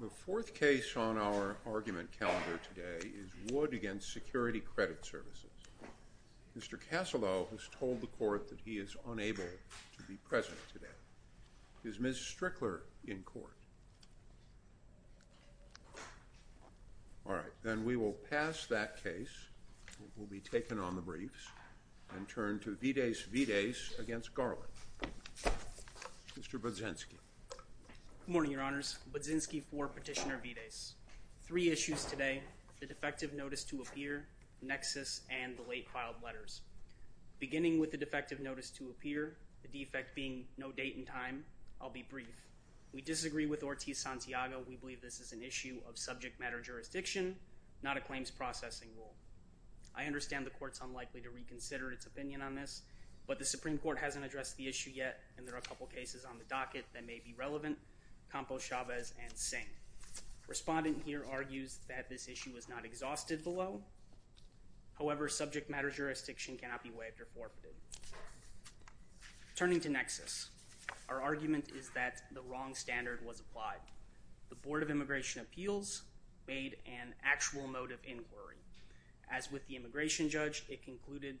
The fourth case on our argument calendar today is Wood v. Security Credit Services. Mr. Casalo has told the court that he is unable to be present today. Is Ms. Strickler in court? All right, then we will pass that case, and it will be taken on the briefs, and turn to Mr. Budzinski. Good morning, Your Honors. Budzinski for Petitioner Vides. Three issues today, the defective notice to appear, nexus, and the late filed letters. Beginning with the defective notice to appear, the defect being no date and time, I'll be brief. We disagree with Ortiz-Santiago. We believe this is an issue of subject matter jurisdiction, not a claims processing rule. I understand the court's unlikely to reconsider its opinion on this, but the Supreme Court I'm going to address it now. I'm going to address it now. I'm going to address it now. We believe this is an issue of subject matter jurisdiction, not a claims processing rule. The court's unlikely to reconsider its opinion on this, but the Supreme Court We're not going to address the issue yet, and there are a couple cases on the docket that may be relevant. Campos, Chavez, and Singh. Respondent here argues that this issue was not exhausted below. However, subject matter jurisdiction cannot be waived or forfeited. Turning to nexus, our argument is that the wrong standard was applied. The Board of Immigration Appeals made an actual motive inquiry. The Board of Immigration Appeals made an actual motive inquiry.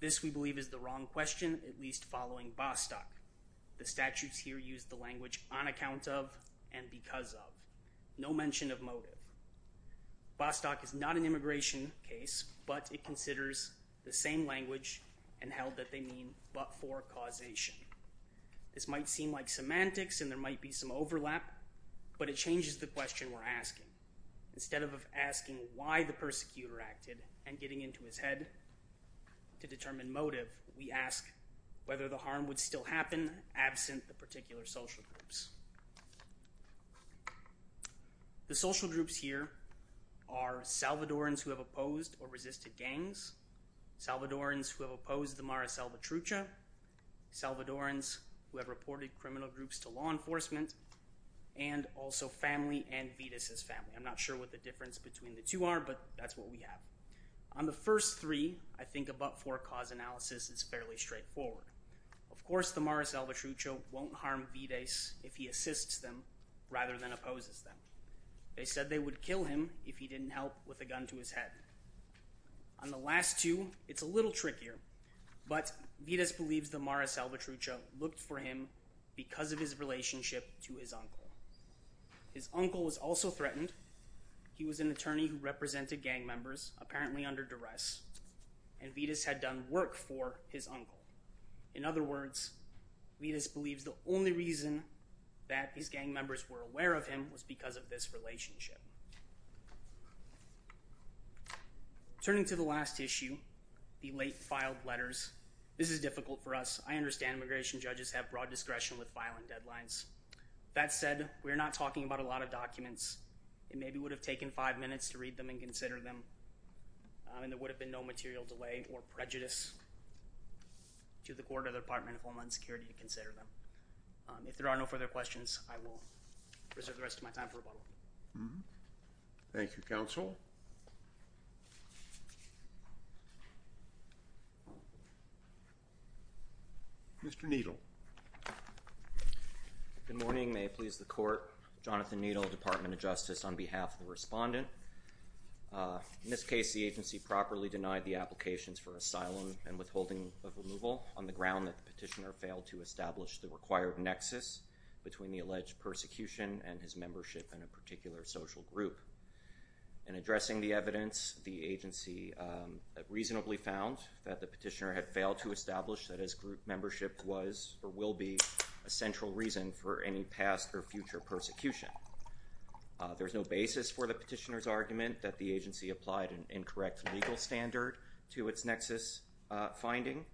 This, we believe, is the wrong question, at least following Bostock. The statutes here use the language on account of, and because of. No mention of motive. Bostock is not an immigration case, but it considers the same language and held that they mean but for causation. This might seem like semantics and there might be some overlap, but it changes the question we're asking. Instead of asking why the persecutor acted and getting into his head to determine motive, we ask whether the harm would still happen absent the particular social groups. The social groups here are Salvadorans who have opposed or resisted gangs, Salvadorans who have opposed the Mara Salvatrucha, Salvadorans who have reported criminal groups to law enforcement, and also family and Vitus' family. I'm not sure what the difference between the two are, but that's what we have. On the first three, I think a but-for cause analysis is fairly straightforward. Of course, the Mara Salvatrucha won't harm Vitus if he assists them rather than opposes them. They said they would kill him if he didn't help with a gun to his head. On the last two, it's a little trickier, but Vitus believes the Mara Salvatrucha looked for him because of his relationship to his uncle. His uncle was also threatened. He was an attorney who represented gang members, apparently under duress, and Vitus had done work for his uncle. In other words, Vitus believes the only reason that his gang members were aware of him was because of this relationship. Turning to the last issue, the late filed letters, this is difficult for us. I understand immigration judges have broad discretion with filing deadlines. That said, we're not talking about a lot of documents. It maybe would have taken five minutes to read them and consider them, and there would have been no material delay or prejudice to the court or the Department of Homeland Security to consider them. If there are no further questions, I will reserve the rest of my time for rebuttal. Thank you, counsel. Mr. Needle. Good morning. May it please the court. Jonathan Needle, Department of Justice, on behalf of the respondent. In this case, the agency properly denied the applications for asylum and withholding of removal on the ground that the petitioner failed to establish the required nexus between the alleged persecution and his membership in a particular social group. In addressing the evidence, the agency reasonably found that the petitioner had failed to establish that his group membership was or will be a central reason for any past or future persecution. There's no basis for the petitioner's argument that the agency applied an incorrect legal standard to its nexus finding.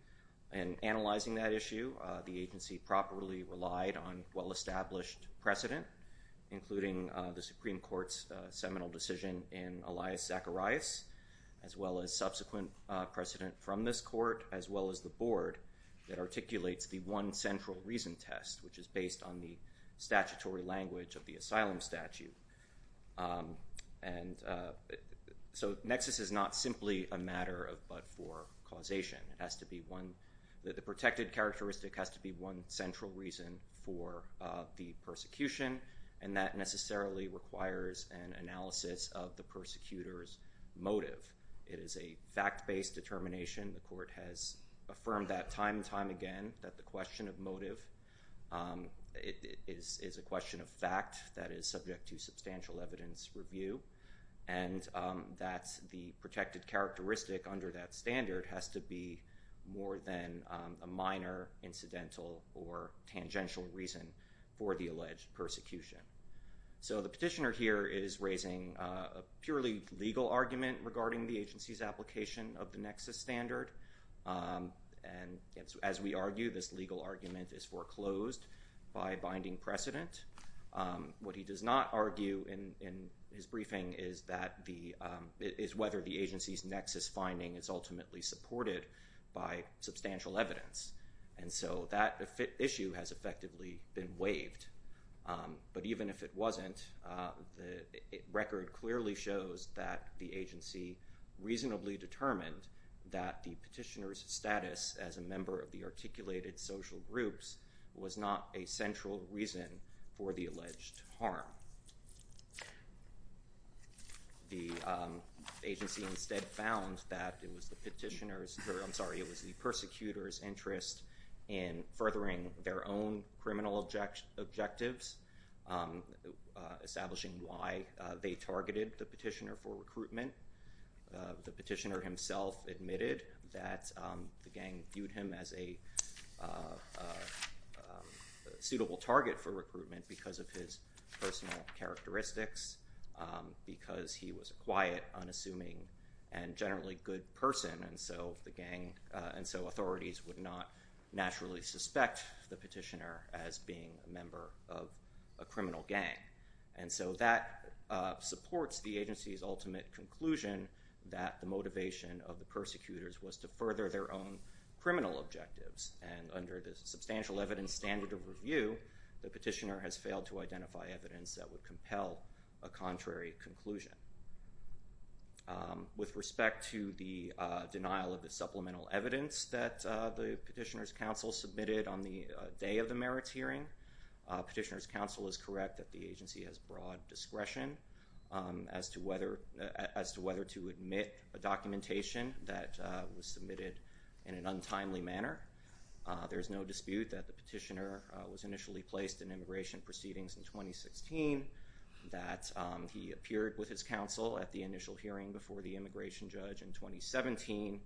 In analyzing that issue, the agency properly relied on well-established precedent, including the Supreme Court's seminal decision in Elias Zacharias, as well as subsequent precedent from this court, as well as the board that articulates the one central reason test, which is based on the statutory language of the asylum statute. And so nexus is not simply a matter of but for causation. It has to be one, the protected characteristic has to be one central reason for the persecution, and that necessarily requires an analysis of the persecutor's motive. It is a fact-based determination. The court has affirmed that time and time again, that the question of motive is a question of fact that is subject to substantial evidence review, and that the protected characteristic under that standard has to be more than a minor incidental or tangential reason for the alleged persecution. So the petitioner here is raising a purely legal argument regarding the agency's application of the nexus standard, and as we argue, this legal argument is foreclosed by binding precedent. What he does not argue in his briefing is that the, is whether the agency's nexus finding is ultimately supported by substantial evidence. And so that issue has effectively been waived, but even if it wasn't, the record clearly shows that the agency reasonably determined that the petitioner's status as a member of the articulated social groups was not a central reason for the alleged harm. The agency instead found that it was the petitioner's, I'm sorry, it was the persecutor's interest in furthering their own criminal objectives, establishing why they targeted the petitioner for recruitment. The petitioner himself admitted that the gang viewed him as a suitable target for recruitment because of his personal characteristics, because he was a quiet, unassuming, and generally good person, and so the gang, and so authorities would not naturally suspect the petitioner as being a member of a criminal gang. And so that supports the agency's ultimate conclusion that the motivation of the persecutors was to further their own criminal objectives, and under the substantial evidence standard of review, the petitioner has failed to identify evidence that would compel a contrary conclusion. With respect to the denial of the supplemental evidence that the petitioner's counsel submitted on the day of the merits hearing, petitioner's counsel is correct that the agency has broad discretion as to whether to admit a documentation that was submitted in an untimely manner. There's no dispute that the petitioner was initially placed in immigration proceedings in 2016, that he appeared with his counsel at the initial hearing before the immigration judge in 2017.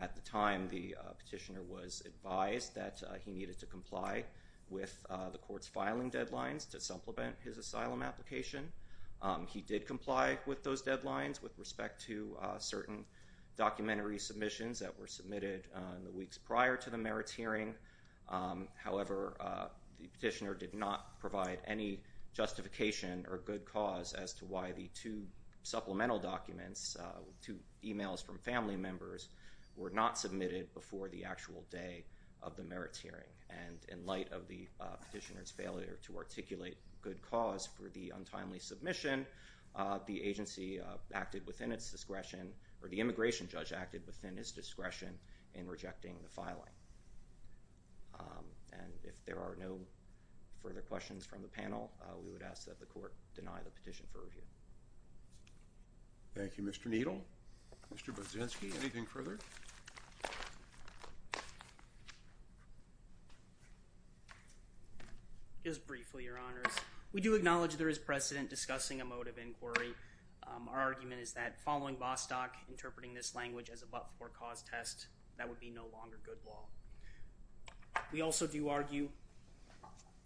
At the time, the petitioner was advised that he needed to comply with the court's filing deadlines to supplement his asylum application. He did comply with those deadlines with respect to certain documentary submissions that were submitted in the weeks prior to the merits hearing. However, the petitioner did not provide any justification or good cause as to why the two supplemental documents, two emails from family members, were not submitted before the actual day of the merits hearing. And in light of the petitioner's failure to articulate good cause for the untimely submission, the agency acted within its discretion, or the immigration judge acted within his discretion in rejecting the filing. And if there are no further questions from the panel, we would ask that the court deny the petition for review. Thank you, Mr. Needle. Mr. Brzezinski, anything further? Just briefly, Your Honors. We do acknowledge there is precedent discussing a mode of inquiry. Our argument is that following Vostok interpreting this language as a but-for-cause test, that would be no longer good law. We also do argue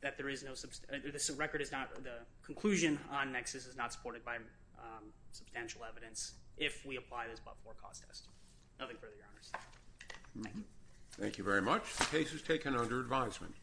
that there is no—the record is not—the conclusion on nexus is not supported by substantial evidence if we apply this but-for-cause test. Nothing further, Your Honors. Thank you. Thank you very much. The case is taken under advisement.